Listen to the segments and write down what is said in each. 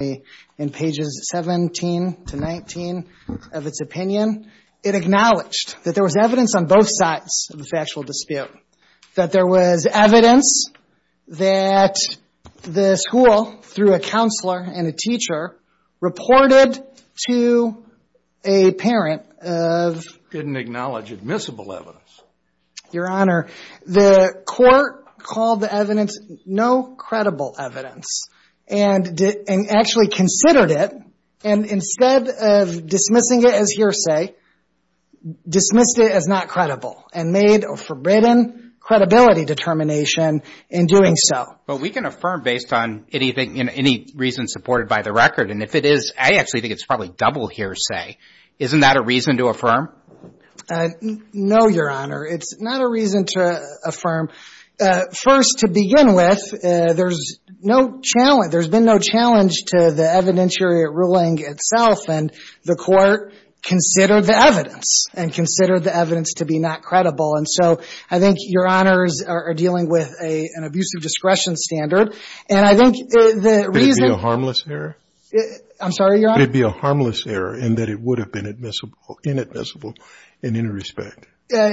in pages 17 to 19 of its opinion it acknowledged that there was evidence on both sides of the factual dispute that there was evidence that the school through a counselor and a teacher reported to a parent of didn't acknowledge admissible evidence your honor the court called the evidence no credible evidence and did and actually considered it and instead of dismissing it as hearsay dismissed it as not credible and made or forbidden credibility determination in doing so but we can affirm based on anything in any reason supported by the record and if it is I actually think it's probably double hearsay isn't that a reason to affirm no your honor it's not a reason to affirm first to begin with there's no challenge there's been no challenge to the evidentiary ruling itself and the court considered the evidence and considered the evidence to be not credible and so I think your honors are dealing with a an abusive discretion standard and I think the reason a harmless error I'm sorry you're gonna be a harmless error and that it would have been admissible inadmissible in any respect I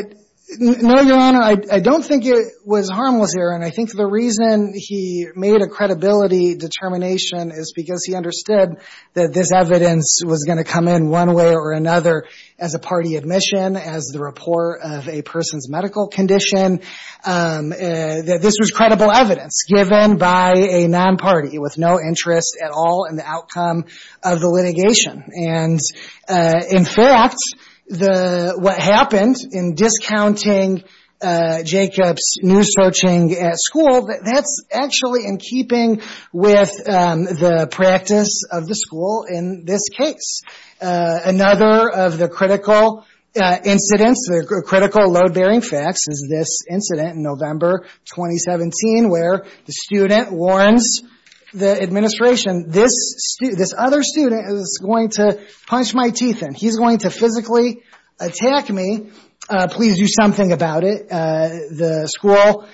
don't think it was harmless here and I think the reason he made a credibility determination is because he understood that this evidence was going to come in one way or another as a party admission as the rapport of a person's medical condition that this was credible evidence given by a non-party with no interest at all in the outcome of the in fact the what happened in discounting Jacobs new searching at school that that's actually in keeping with the practice of the school in this case another of the critical incidents the critical load-bearing facts is this incident in November 2017 where the student warns the administration this other student is going to punch my teeth and he's going to physically attack me please do something about it the school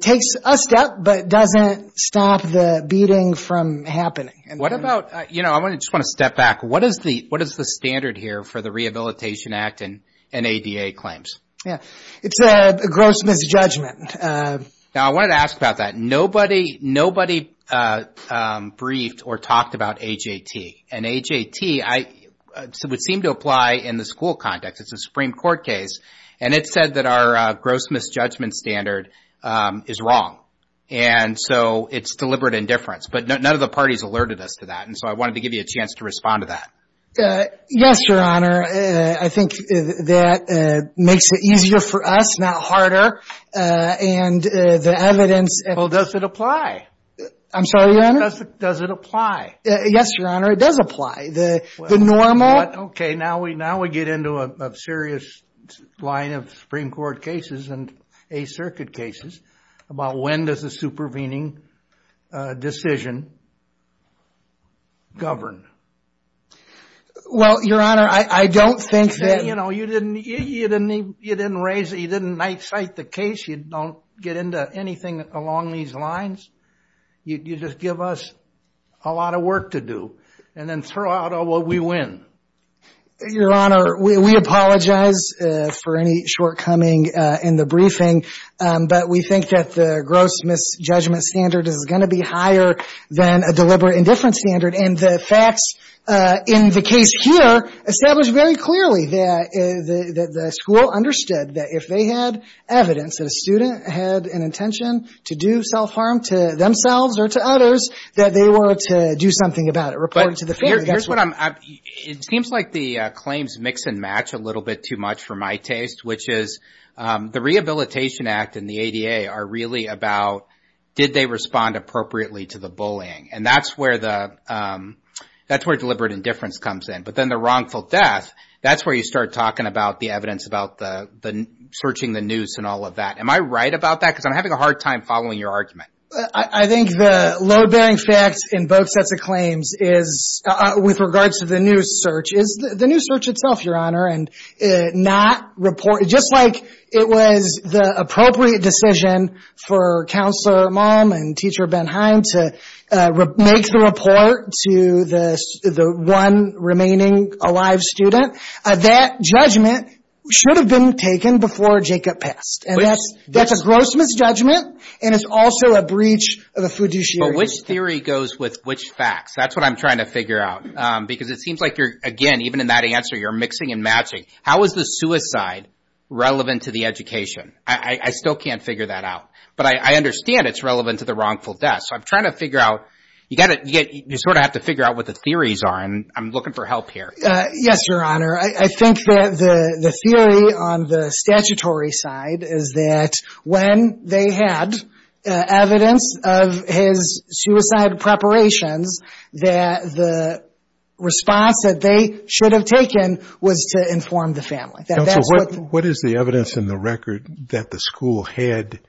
takes a step but doesn't stop the beating from happening and what about you know I want to just want to step back what is the what is the standard here for the Rehabilitation Act and an ADA claims yeah it's a gross misjudgment now I wanted to ask about that nobody briefed or talked about AJT and AJT I would seem to apply in the school context it's a Supreme Court case and it said that our gross misjudgment standard is wrong and so it's deliberate indifference but none of the parties alerted us to that and so I wanted to give you a chance to respond to that yes your honor I think that makes it easier for us not harder and the evidence well does it apply I'm sorry your honor does it apply yes your honor it does apply the normal okay now we now we get into a serious line of Supreme Court cases and a circuit cases about when does the supervening decision govern well your honor I don't think that you know you didn't you didn't even you didn't raise you didn't night sight the case you don't get into anything along these lines you just give us a lot of work to do and then throw out all what we win your honor we apologize for any shortcoming in the briefing but we think that the gross misjudgment standard is going to be higher than a deliberate indifference standard and the facts in the case here established very clearly that the school understood that if they had evidence that a student had an intention to do self-harm to themselves or to others that they were to do something about it report to the fair guess what I'm it seems like the claims mix and match a little bit too much for my taste which is the Rehabilitation Act and the ADA are really about did they respond appropriately to the bullying and that's where the that's where deliberate indifference comes in but then the death that's where you start talking about the evidence about the the searching the news and all of that am I right about that because I'm having a hard time following your argument I think the load-bearing facts in both sets of claims is with regards to the new search is the new search itself your honor and not report just like it was the appropriate decision for counselor mom and teacher Ben Hines to make the report to this the one remaining alive student that judgment should have been taken before Jacob passed and yes that's a gross misjudgment and it's also a breach of the fiduciary theory goes with which facts that's what I'm trying to figure out because it seems like you're again even in that answer you're mixing and matching how is the suicide relevant to the education I still can't figure that out but I understand it's relevant to the wrongful death so I'm trying to figure out you got it yet you sort of have to figure out what the theories are and I'm looking for help here yes your honor I think that the the theory on the statutory side is that when they had evidence of his suicide preparations that the response that they should have was to inform the family what is the evidence in the record that the school had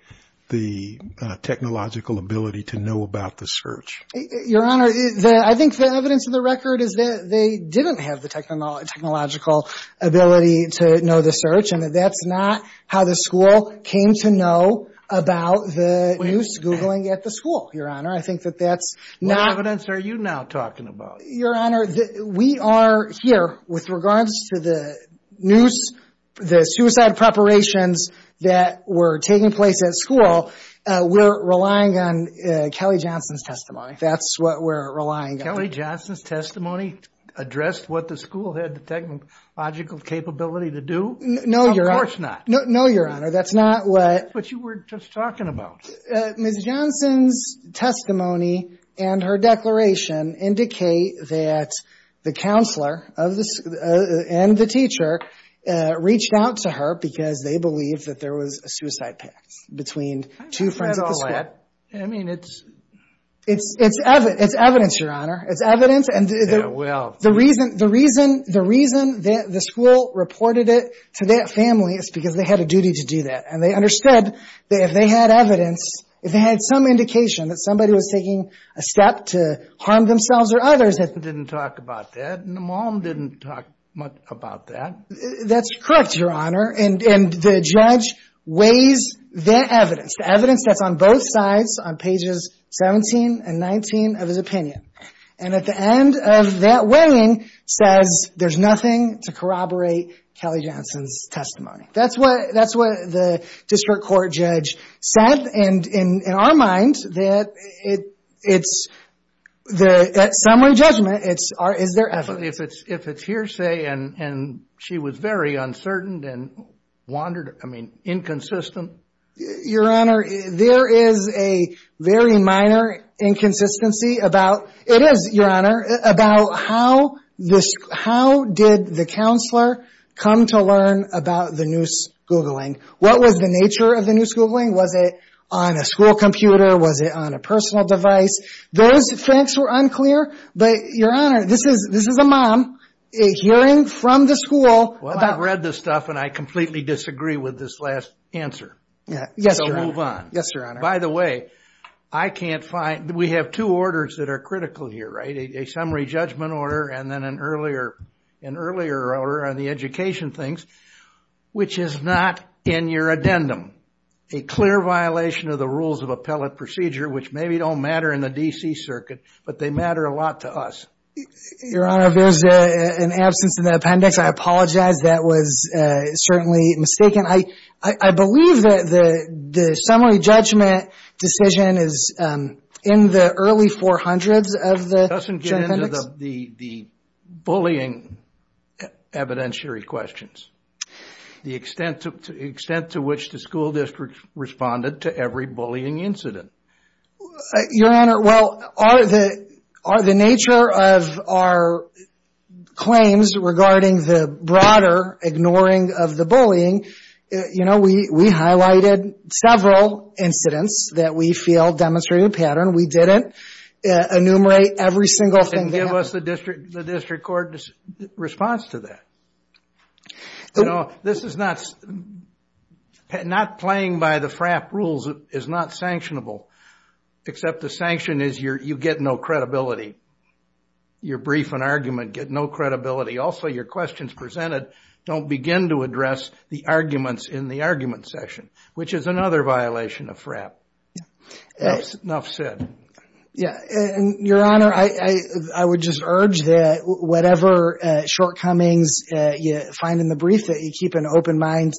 the technological ability to know about the search your honor I think the evidence of the record is that they didn't have the technology technological ability to know the search and that that's not how the school came to know about the news googling at the school your honor I think that that's not are you now talking about your honor that we are here with regards to the news the suicide preparations that were taking place at school we're relying on Kelly Johnson's testimony that's what we're relying Kelly Johnson's testimony addressed what the school had the technological capability to do no your horse not no no your honor that's not what but you were just talking about Johnson's testimony and her declaration indicate that the counselor of this and the teacher reached out to her because they believe that there was a suicide between two friends all that I mean it's it's it's evident it's evidence your honor it's evidence and well the reason the reason the reason that the school reported it to that family is because they had a duty to do that and they said that if they had evidence if they had some indication that somebody was taking a step to harm themselves or others that didn't talk about that mom didn't talk much about that that's correct your honor and the judge weighs the evidence the evidence that's on both sides on pages 17 and 19 of his opinion and at the end of that weighing says there's nothing to corroborate Kelly testimony that's what that's what the district court judge said and in our mind that it it's the summary judgment it's our is there ever if it's if it's hearsay and and she was very uncertain and wandered I mean inconsistent your honor there is a very minor inconsistency about it is your honor about how this how did the counselor come to learn about the noose googling what was the nature of the noose googling was it on a school computer was it on a personal device those things were unclear but your honor this is this is a mom a hearing from the school well I've read this stuff and I completely disagree with this last answer yeah yes move on yes your honor by the way I can't find we have two orders that are critical here right a summary judgment order and then an earlier an earlier order on the education things which is not in your addendum a clear violation of the rules of appellate procedure which maybe don't matter in the DC Circuit but they matter a lot to us your honor there's an absence in the appendix I apologize that was certainly mistaken I I believe that the the summary judgment decision is in the early 400s of the the the bullying evidentiary questions the extent to extent to which the school district responded to every bullying incident your honor well are the are the nature of our claims regarding the broader ignoring of the you know we we highlighted several incidents that we feel demonstrated pattern we didn't enumerate every single thing give us the district the district court response to that you know this is not not playing by the frap rules is not sanctionable except the sanction is your you get no credibility your brief an argument get no credibility also your questions presented don't begin to the arguments in the argument session which is another violation of frap yes enough said yeah and your honor I I would just urge that whatever shortcomings you find in the brief that you keep an open mind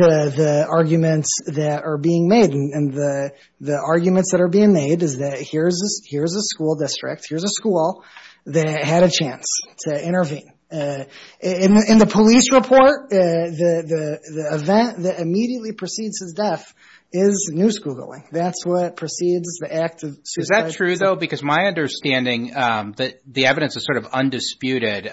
to the arguments that are being made and the the arguments that are being made is that here's this here's a school district here's a school that had a chance to intervene in the police report the event that immediately precedes his death is news googling that's what precedes the active is that true though because my understanding that the evidence is sort of undisputed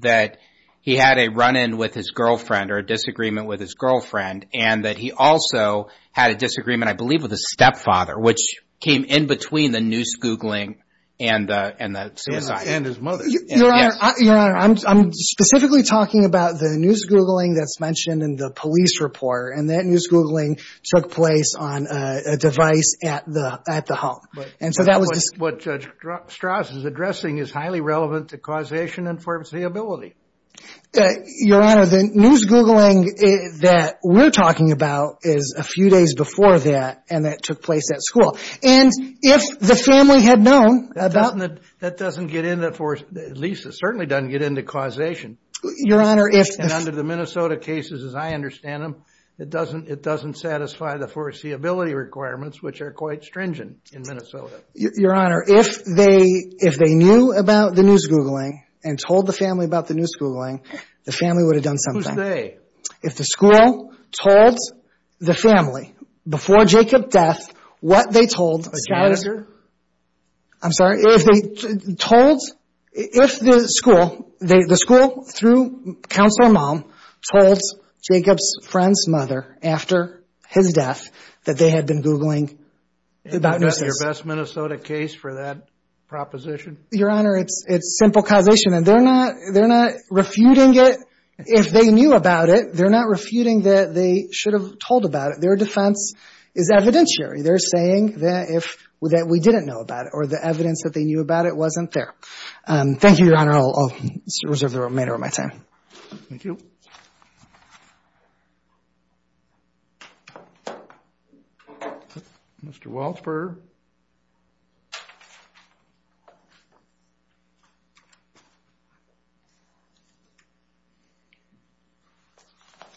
that he had a run-in with his girlfriend or a disagreement with his girlfriend and that he also had a disagreement I believe with a stepfather which came in between the news googling and I'm specifically talking about the news googling that's mentioned in the police report and that news googling took place on a device at the at the home and so that was what judge Strauss is addressing is highly relevant to causation and foreseeability your honor the news googling that we're talking about is a few days before that and that the family had known about that that doesn't get in that for at least it certainly doesn't get into causation your honor if and under the Minnesota cases as I understand them it doesn't it doesn't satisfy the foreseeability requirements which are quite stringent in Minnesota your honor if they if they knew about the news googling and told the family about the news googling the family would have done something if the school told the family before Jacob death what they told I'm sorry if they told if the school they the school through counselor mom told Jacob's friend's mother after his death that they had been googling about your best Minnesota case for that proposition your honor it's it's simple causation and they're not they're not refuting it if they knew about it they're not refuting that they should have told about it their defense is evidentiary they're saying that if we that we didn't know about it or the evidence that they knew about it wasn't there thank you your honor I'll reserve the remainder of my time mr. Waltz burger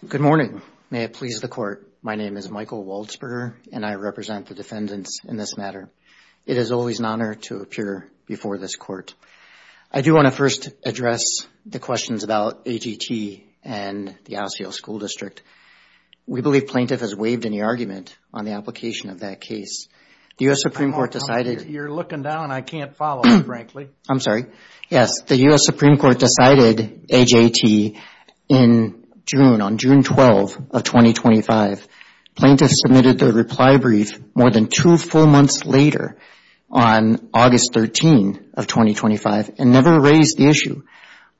good morning may it please the court my name is Michael Waltz burger and I represent the defendants in this matter it is always an honor to appear before this court I do want to first address the questions about AGT and the Osceola school district we believe plaintiff has waived any argument on the application of that case the US Supreme Court decided you're looking down I can't follow frankly I'm sorry yes the US Supreme Court decided AJT in June on June 12 of 2025 plaintiffs submitted their reply brief more than two full months later on August 13 of 2025 and never raised the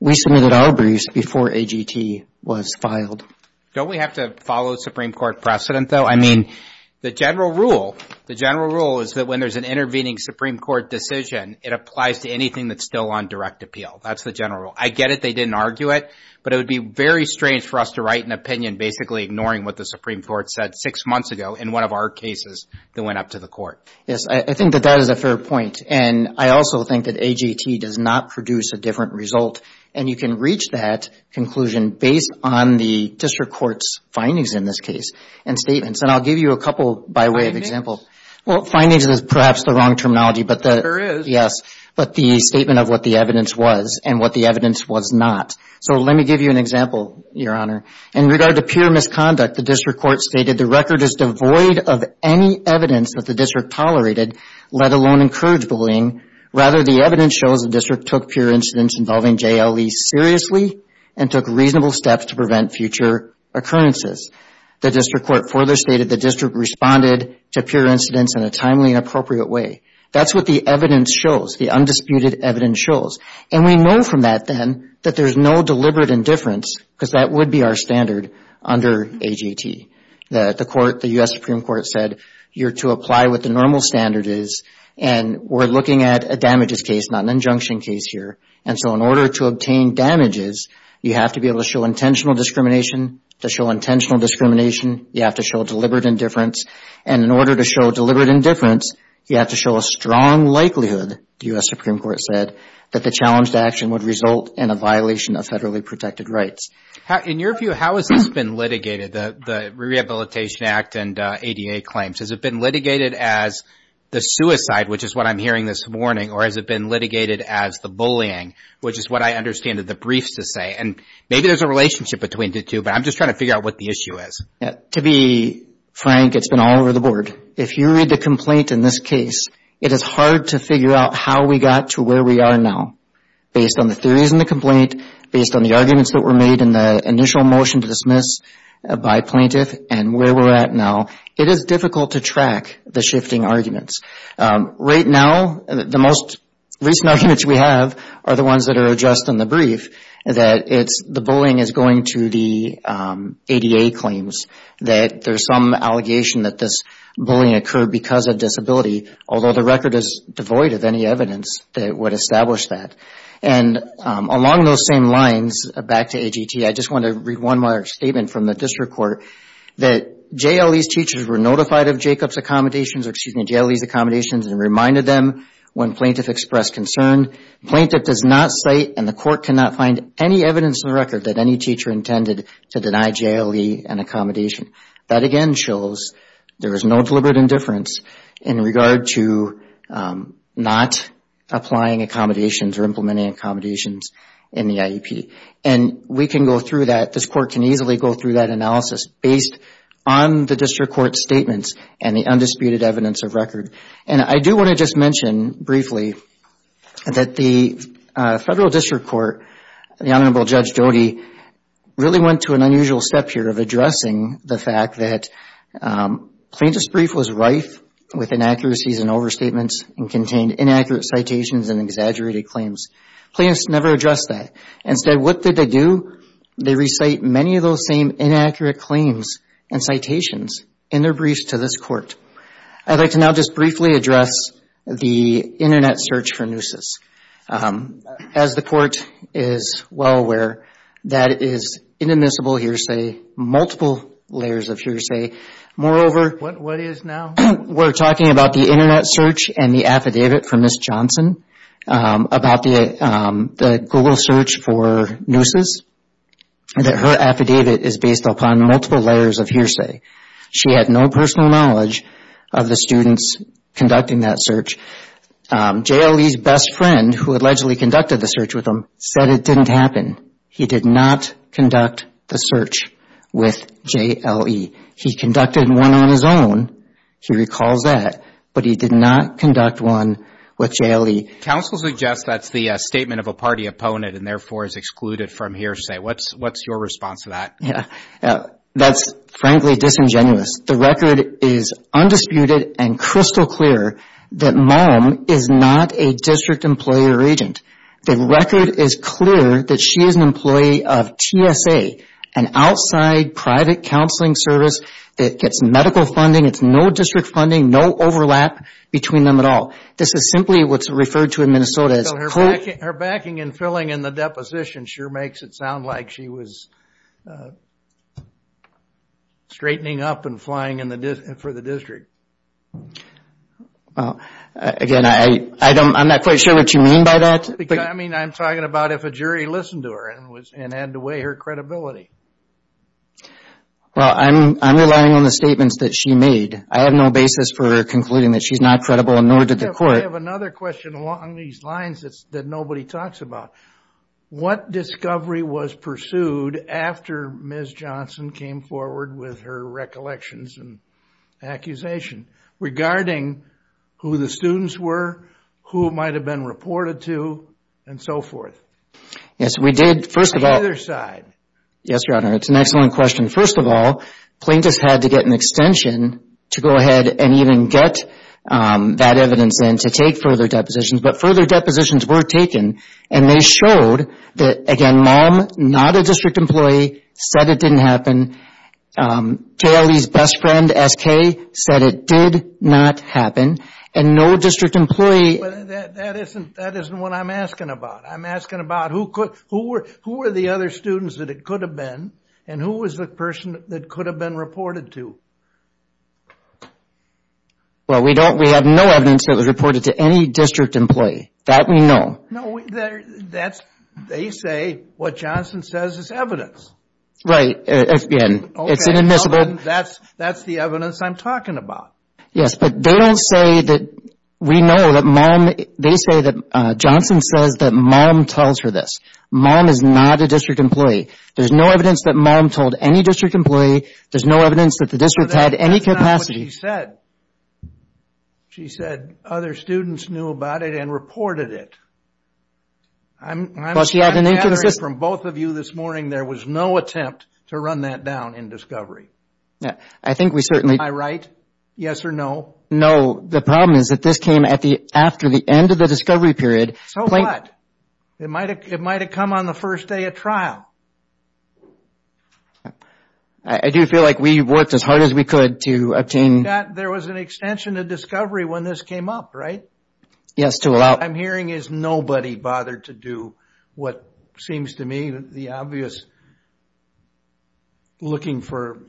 we submitted our briefs before AGT was filed don't we have to follow the Supreme Court precedent though I mean the general rule the general rule is that when there's an intervening Supreme Court decision it applies to anything that's still on direct appeal that's the general I get it they didn't argue it but it would be very strange for us to write an opinion basically ignoring what the Supreme Court said six months ago in one of our cases that went up to the court yes I think that that is a fair point and I also think that AGT does not produce a different result and you can reach that conclusion based on the district courts findings in this case and statements and I'll give you a couple by way of example well findings is perhaps the wrong terminology but the yes but the statement of what the evidence was and what the evidence was not so let me give you an example your honor in regard to pure misconduct the district court stated the record is devoid of any evidence that the district tolerated let alone encourage bullying rather the evidence shows the district took pure incidents involving JLE seriously and took reasonable steps to prevent future occurrences the district court further stated the district responded to pure incidents in a timely and appropriate way that's what the evidence shows the undisputed evidence shows and we know from that then that there's no deliberate indifference because that would be our standard under AGT the court the US Supreme Court said you're to apply with the normal standards and we're looking at a damages case not an injunction case here and so in order to obtain damages you have to be able to show intentional discrimination to show intentional discrimination you have to show deliberate indifference and in order to show deliberate indifference you have to show a strong likelihood the US Supreme Court said that the challenged action would result in a violation of federally protected rights in your view how has been litigated the Rehabilitation Act and ADA claims has it been litigated as the suicide which is what I'm hearing this morning or has it been litigated as the bullying which is what I understand that the briefs to say and maybe there's a relationship between the two but I'm just trying to figure out what the issue is to be Frank it's been all over the board if you read the complaint in this case it is hard to figure out how we got to where we are now based on the theories in the complaint based on the arguments that were made in the initial motion to dismiss by plaintiff and where we're at now it is difficult to track the shifting arguments right now the most recent arguments we have are the ones that are just in the brief that it's the bullying is going to the ADA claims that there's some allegation that this bullying occurred because of disability although the record is devoid of any evidence that would establish that and along those same lines back to AGT I just want to read one more statement from the district court that JLE's teachers were notified of Jacobs accommodations or excuse me JLE's accommodations and reminded them when plaintiff expressed concern plaintiff does not cite and the court cannot find any evidence in the record that any teacher intended to deny JLE an accommodation that again shows there is no deliberate indifference in regard to not applying accommodations or implementing accommodations in the IEP and we can go through that this court can easily go through that analysis based on the district court statements and the undisputed evidence of record and I do want to just mention briefly that the federal district court the Honorable Judge Jody really went to an unusual step here of addressing the fact that plaintiff's brief was rife with inaccuracies and overstatements and contained inaccurate citations and exaggerated claims plaintiffs never addressed that instead what did they do they recite many of those same inaccurate claims and citations in their briefs to this court I'd like to now just briefly address the internet search for nooses as the court is well aware that is inadmissible hearsay multiple layers of hearsay moreover we're talking about the internet search and the affidavit for Miss Johnson about the Google search for nooses that her affidavit is based upon multiple layers of hearsay she had no personal knowledge of the students conducting that search JLE's best friend who allegedly conducted the search with him said it didn't happen he did not conduct the search with JLE he conducted one on his own he recalls that but he did not conduct one with JLE counsel suggests that's the statement of a party opponent and therefore is excluded from hearsay what's what's your response to that yeah that's frankly disingenuous the record is undisputed and crystal clear that mom is not a district employee or agent the record is clear that she is an employee of TSA an outside private counseling service that gets medical funding it's no district funding no overlap between them at all this is simply what's referred to in Minnesota as her backing and filling in the deposition sure makes it sound like she was straightening up and flying in the distance for the district again I I don't I'm not quite sure what you mean by that I mean I'm talking about if a jury listened to her and was and had to weigh her credibility well I'm relying on the statements that she made I have no basis for concluding that she's not credible in order to the court of another question along these lines that's that nobody talks about what discovery was pursued after ms. Johnson came forward with her recollections and regarding who the students were who might have been reported to and so forth yes we did first of all their side yes your honor it's an excellent question first of all plaintiffs had to get an extension to go ahead and even get that evidence and to take further depositions but further depositions were taken and they showed that again mom not a district employee said it didn't happen Kaylee's best friend SK said it did not happen and no district employee that isn't that isn't what I'm asking about I'm asking about who could who were who were the other students that it could have been and who was the person that could have been reported to well we don't we have no evidence that was reported to any district employee that we know no that's they say what Johnson says is evidence right again it's inadmissible that's that's the evidence I'm talking about yes but they don't say that we know that mom they say that Johnson says that mom tells her this mom is not a district employee there's no evidence that mom told any district employee there's no evidence that the district had any capacity said she said other students knew about it and reported it I'm from both of you this morning there was no attempt to run that down in discovery yeah I think we certainly I write yes or no no the problem is that this came at the after the end of the discovery period so like it might it might have come on the first day of trial I do feel like we worked as hard as we could to obtain that there was an extension of discovery when this came up right yes to allow I'm hearing is nobody bothered to do what seems to me that the obvious looking for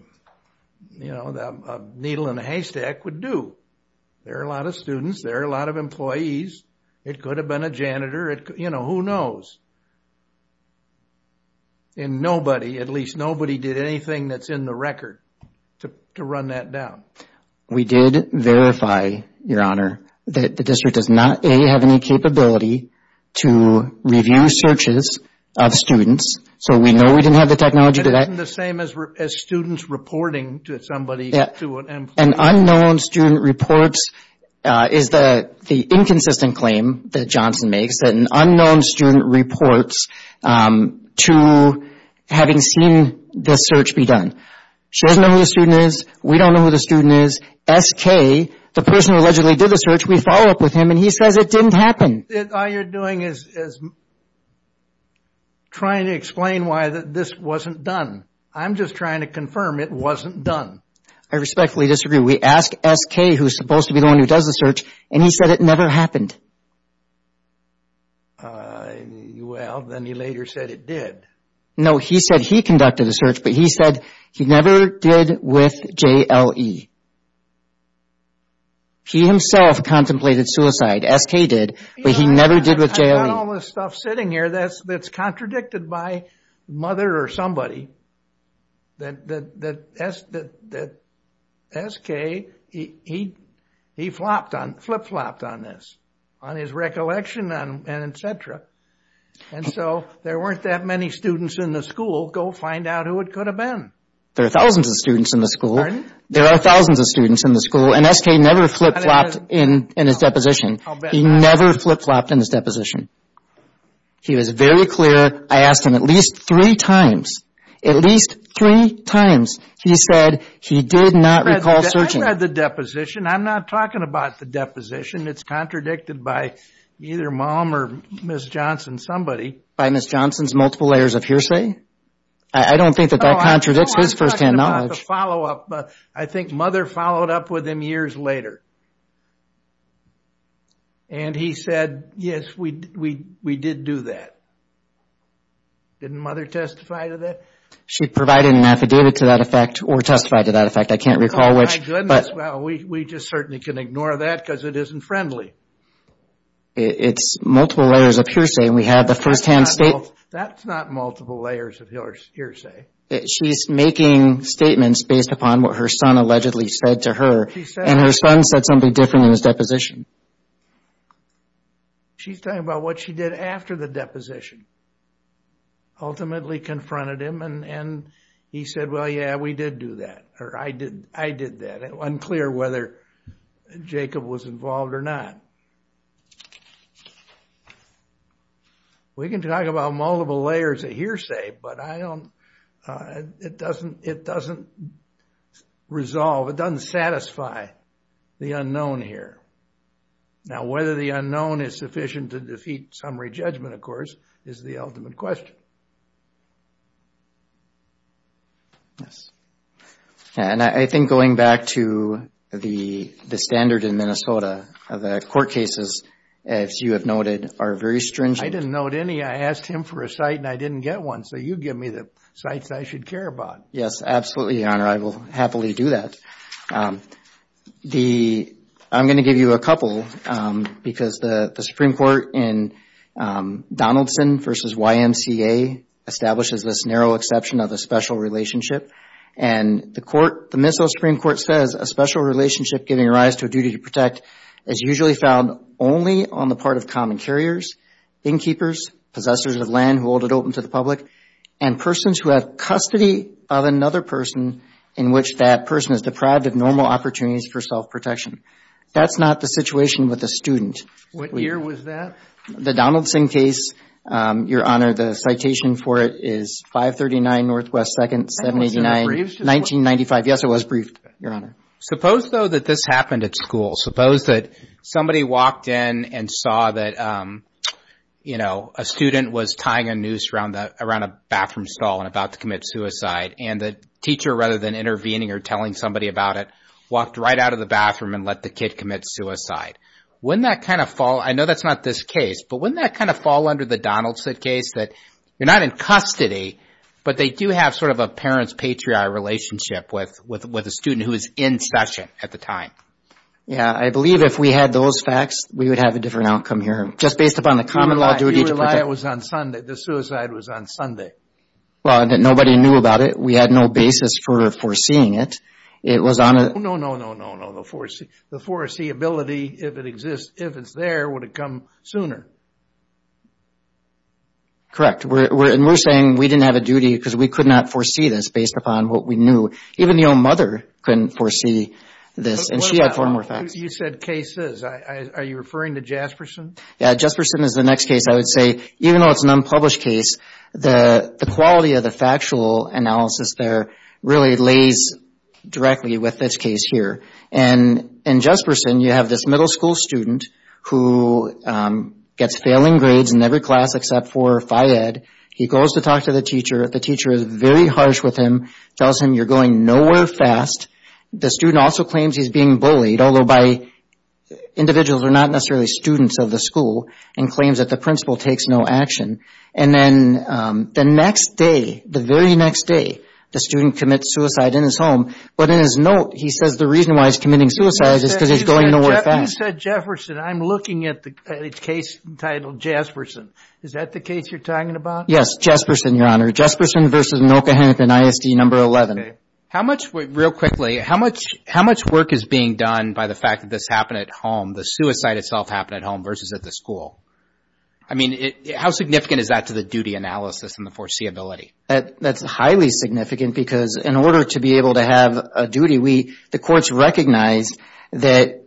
you know that needle in a haystack would do there are a lot of students there are a lot of employees it could have been a janitor it you know who knows and nobody at least nobody did anything that's in the record to run that down we did verify your honor that the district does not have any capability to review searches of students so we know we didn't have the technology to that the same as students reporting to somebody and unknown student reports is the the inconsistent claim that Johnson makes unknown student reports to having seen the search be done we don't know who the student is SK the person allegedly did the search we follow up with him and he says it didn't happen trying to explain why this wasn't done I'm just trying to confirm it wasn't done I respectfully disagree we asked SK who's supposed to be the one who does the search and he said it never happened well then he later said it did no he said he conducted a search but he said he never did with JLE he himself contemplated suicide SK did but he never did with jail all this stuff sitting here that's that's contradicted by mother or that that that that SK he he flopped on flip-flopped on this on his recollection and etc and so there weren't that many students in the school go find out who it could have been there are thousands of students in the school there are thousands of students in the school and SK never flip-flopped in in his deposition he never flip-flopped in his deposition he was very clear I asked him at least three times at least three times he said he did not recall searching at the deposition I'm not talking about the deposition it's contradicted by either mom or miss Johnson somebody by miss Johnson's multiple layers of hearsay I don't think that that contradicts his first-hand knowledge follow-up but I think mother followed up with him years later and he yes we did do that didn't mother testify to that she provided an affidavit to that effect or testified to that effect I can't recall which but we just certainly can ignore that because it isn't friendly it's multiple layers of hearsay we have the first-hand state that's not multiple layers of yours hearsay she's making statements based upon what her son allegedly said to her and her son said something different in his deposition she's talking about what she did after the deposition ultimately confronted him and and he said well yeah we did do that or I did I did that unclear whether Jacob was involved or not we can talk about multiple layers of hearsay but I don't it doesn't it doesn't resolve it doesn't satisfy the unknown here now whether the unknown is sufficient to defeat summary judgment of course is the ultimate question yes and I think going back to the the standard in Minnesota of the court cases as you have noted are very stringent I didn't note any I asked him for a site and I give me the sites I should care about yes absolutely honor I will happily do that the I'm going to give you a couple because the the Supreme Court in Donaldson versus YMCA establishes this narrow exception of a special relationship and the court the Minnesota Supreme Court says a special relationship giving rise to a duty to protect is usually found only on the part of common carriers innkeepers possessors of land who hold it open to the public and persons who have custody of another person in which that person is deprived of normal opportunities for self-protection that's not the situation with the student what year was that the Donaldson case your honor the citation for it is five thirty nine northwest second seven eighty nine nineteen ninety five yes it was briefed your honor suppose though that this happened at school suppose that somebody walked in and saw that you know a student was tying a noose around the around a bathroom stall and about to commit suicide and the teacher rather than intervening or telling somebody about it walked right out of the bathroom and let the kid commit suicide when that kind of fall I know that's not this case but when that kind of fall under the Donaldson case that you're not in custody but they do have sort of a parents patriarch relationship with with with a student who is in session at the time yeah I believe if we had those facts we would have a different outcome here just based upon the common law do you rely I was on Sunday the suicide was on Sunday well nobody knew about it we had no basis for foreseeing it it was on it no no no no no no foresee the foreseeability if it exists if it's there would have come sooner correct we're saying we didn't have a duty because we could not foresee this based upon what we knew even the old mother couldn't foresee this and she had four more facts you said cases are you Jasperson yeah just person is the next case I would say even though it's an unpublished case the the quality of the factual analysis there really lays directly with this case here and in Jesperson you have this middle school student who gets failing grades in every class except for Phi Ed he goes to talk to the teacher the teacher is very harsh with him tells him you're going nowhere fast the student also claims he's being bullied although by individuals are not necessarily students of the school and claims that the principal takes no action and then the next day the very next day the student commits suicide in his home but in his note he says the reason why he's committing suicide is because he's going to work that said Jefferson I'm looking at the case entitled Jasperson is that the case you're talking about yes Jesperson your honor Jesperson vs. Milka Hennepin ISD number 11 how much real quickly how much how much work is being done by the fact that this happened at home the suicide itself happened at home versus at the school I mean it how significant is that to the duty analysis and the foreseeability that that's highly significant because in order to be able to have a duty we the courts recognized that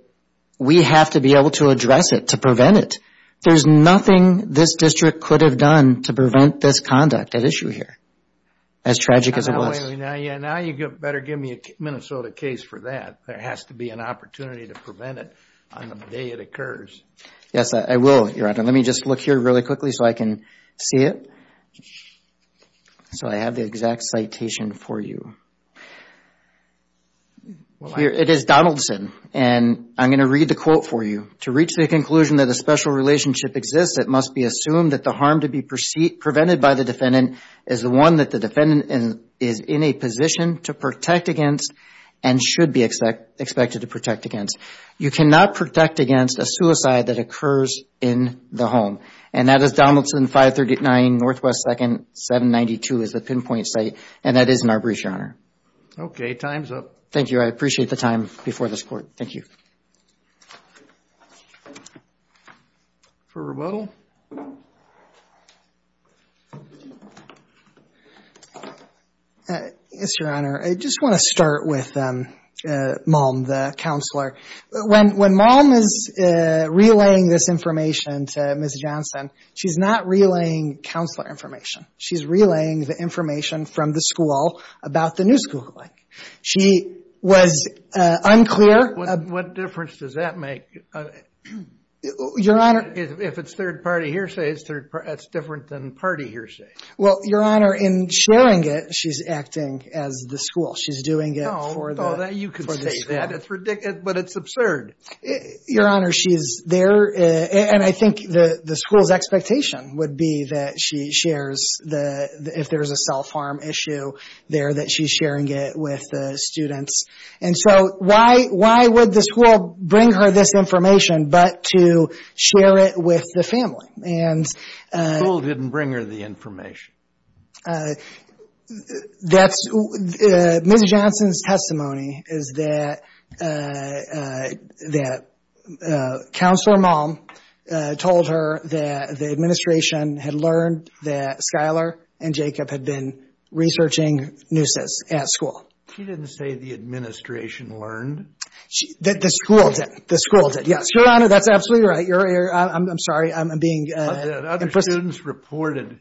we have to be able to address it to prevent it there's nothing this district could have done to prevent this conduct at issue here as tragic as it was yeah now you get better give me a Minnesota case for that there has to be an to prevent it on the day it occurs yes I will your honor let me just look here really quickly so I can see it so I have the exact citation for you here it is Donaldson and I'm gonna read the quote for you to reach the conclusion that a special relationship exists it must be assumed that the harm to be proceed prevented by the defendant is the one that the defendant is in a position to protect against and should be expect expected to protect against you cannot protect against a suicide that occurs in the home and that is Donaldson 539 northwest second 792 is the pinpoint site and that is in our brief your honor okay time's up thank you I appreciate the time before this court thank you for rebuttal yes your honor I just want to start with them mom the counselor when when mom is relaying this information to miss Johnson she's not relaying counselor information she's relaying the information from the school about the new school like she was unclear what difference does that make your honor if it's third-party hearsay is third that's different than party hearsay well your honor in sharing it she's acting as the school she's doing it for that you can say that it's ridiculous but it's absurd your honor she's there and I think the the school's expectation would be that she shares the if there is a self-harm issue there that she's sharing it with the students and so why why would the school bring her this information but to share it with the family and didn't bring her the information that's miss Johnson's testimony is that that counselor mom told her that the administration had learned that Skylar and Jacob had been researching nooses at school she didn't that the school did the school did yes your honor that's absolutely right you're here I'm sorry I'm being other students reported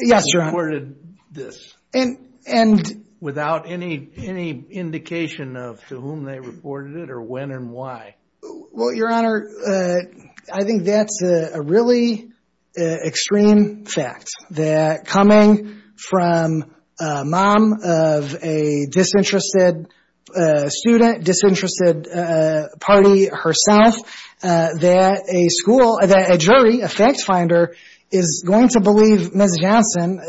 yes you're awarded this and and without any any indication of to whom they reported it or when and why well your honor I think that's a really extreme fact that coming from mom a disinterested student disinterested party herself that a school that a jury effect finder is going to believe miss Johnson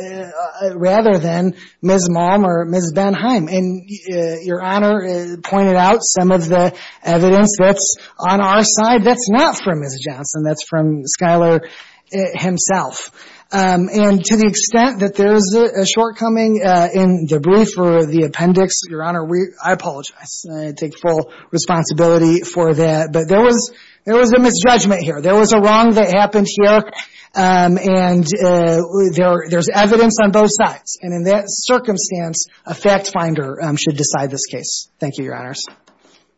rather than miss mom or miss Benheim and your honor is pointed out some of the evidence that's on our side that's not for miss Johnson that's from Skylar himself and to the extent that there's a shortcoming in the brief or the appendix your honor we I apologize take full responsibility for that but there was there was a misjudgment here there was a wrong that happened here and there there's evidence on both sides and in that circumstance a fact finder should decide this case thank you your honors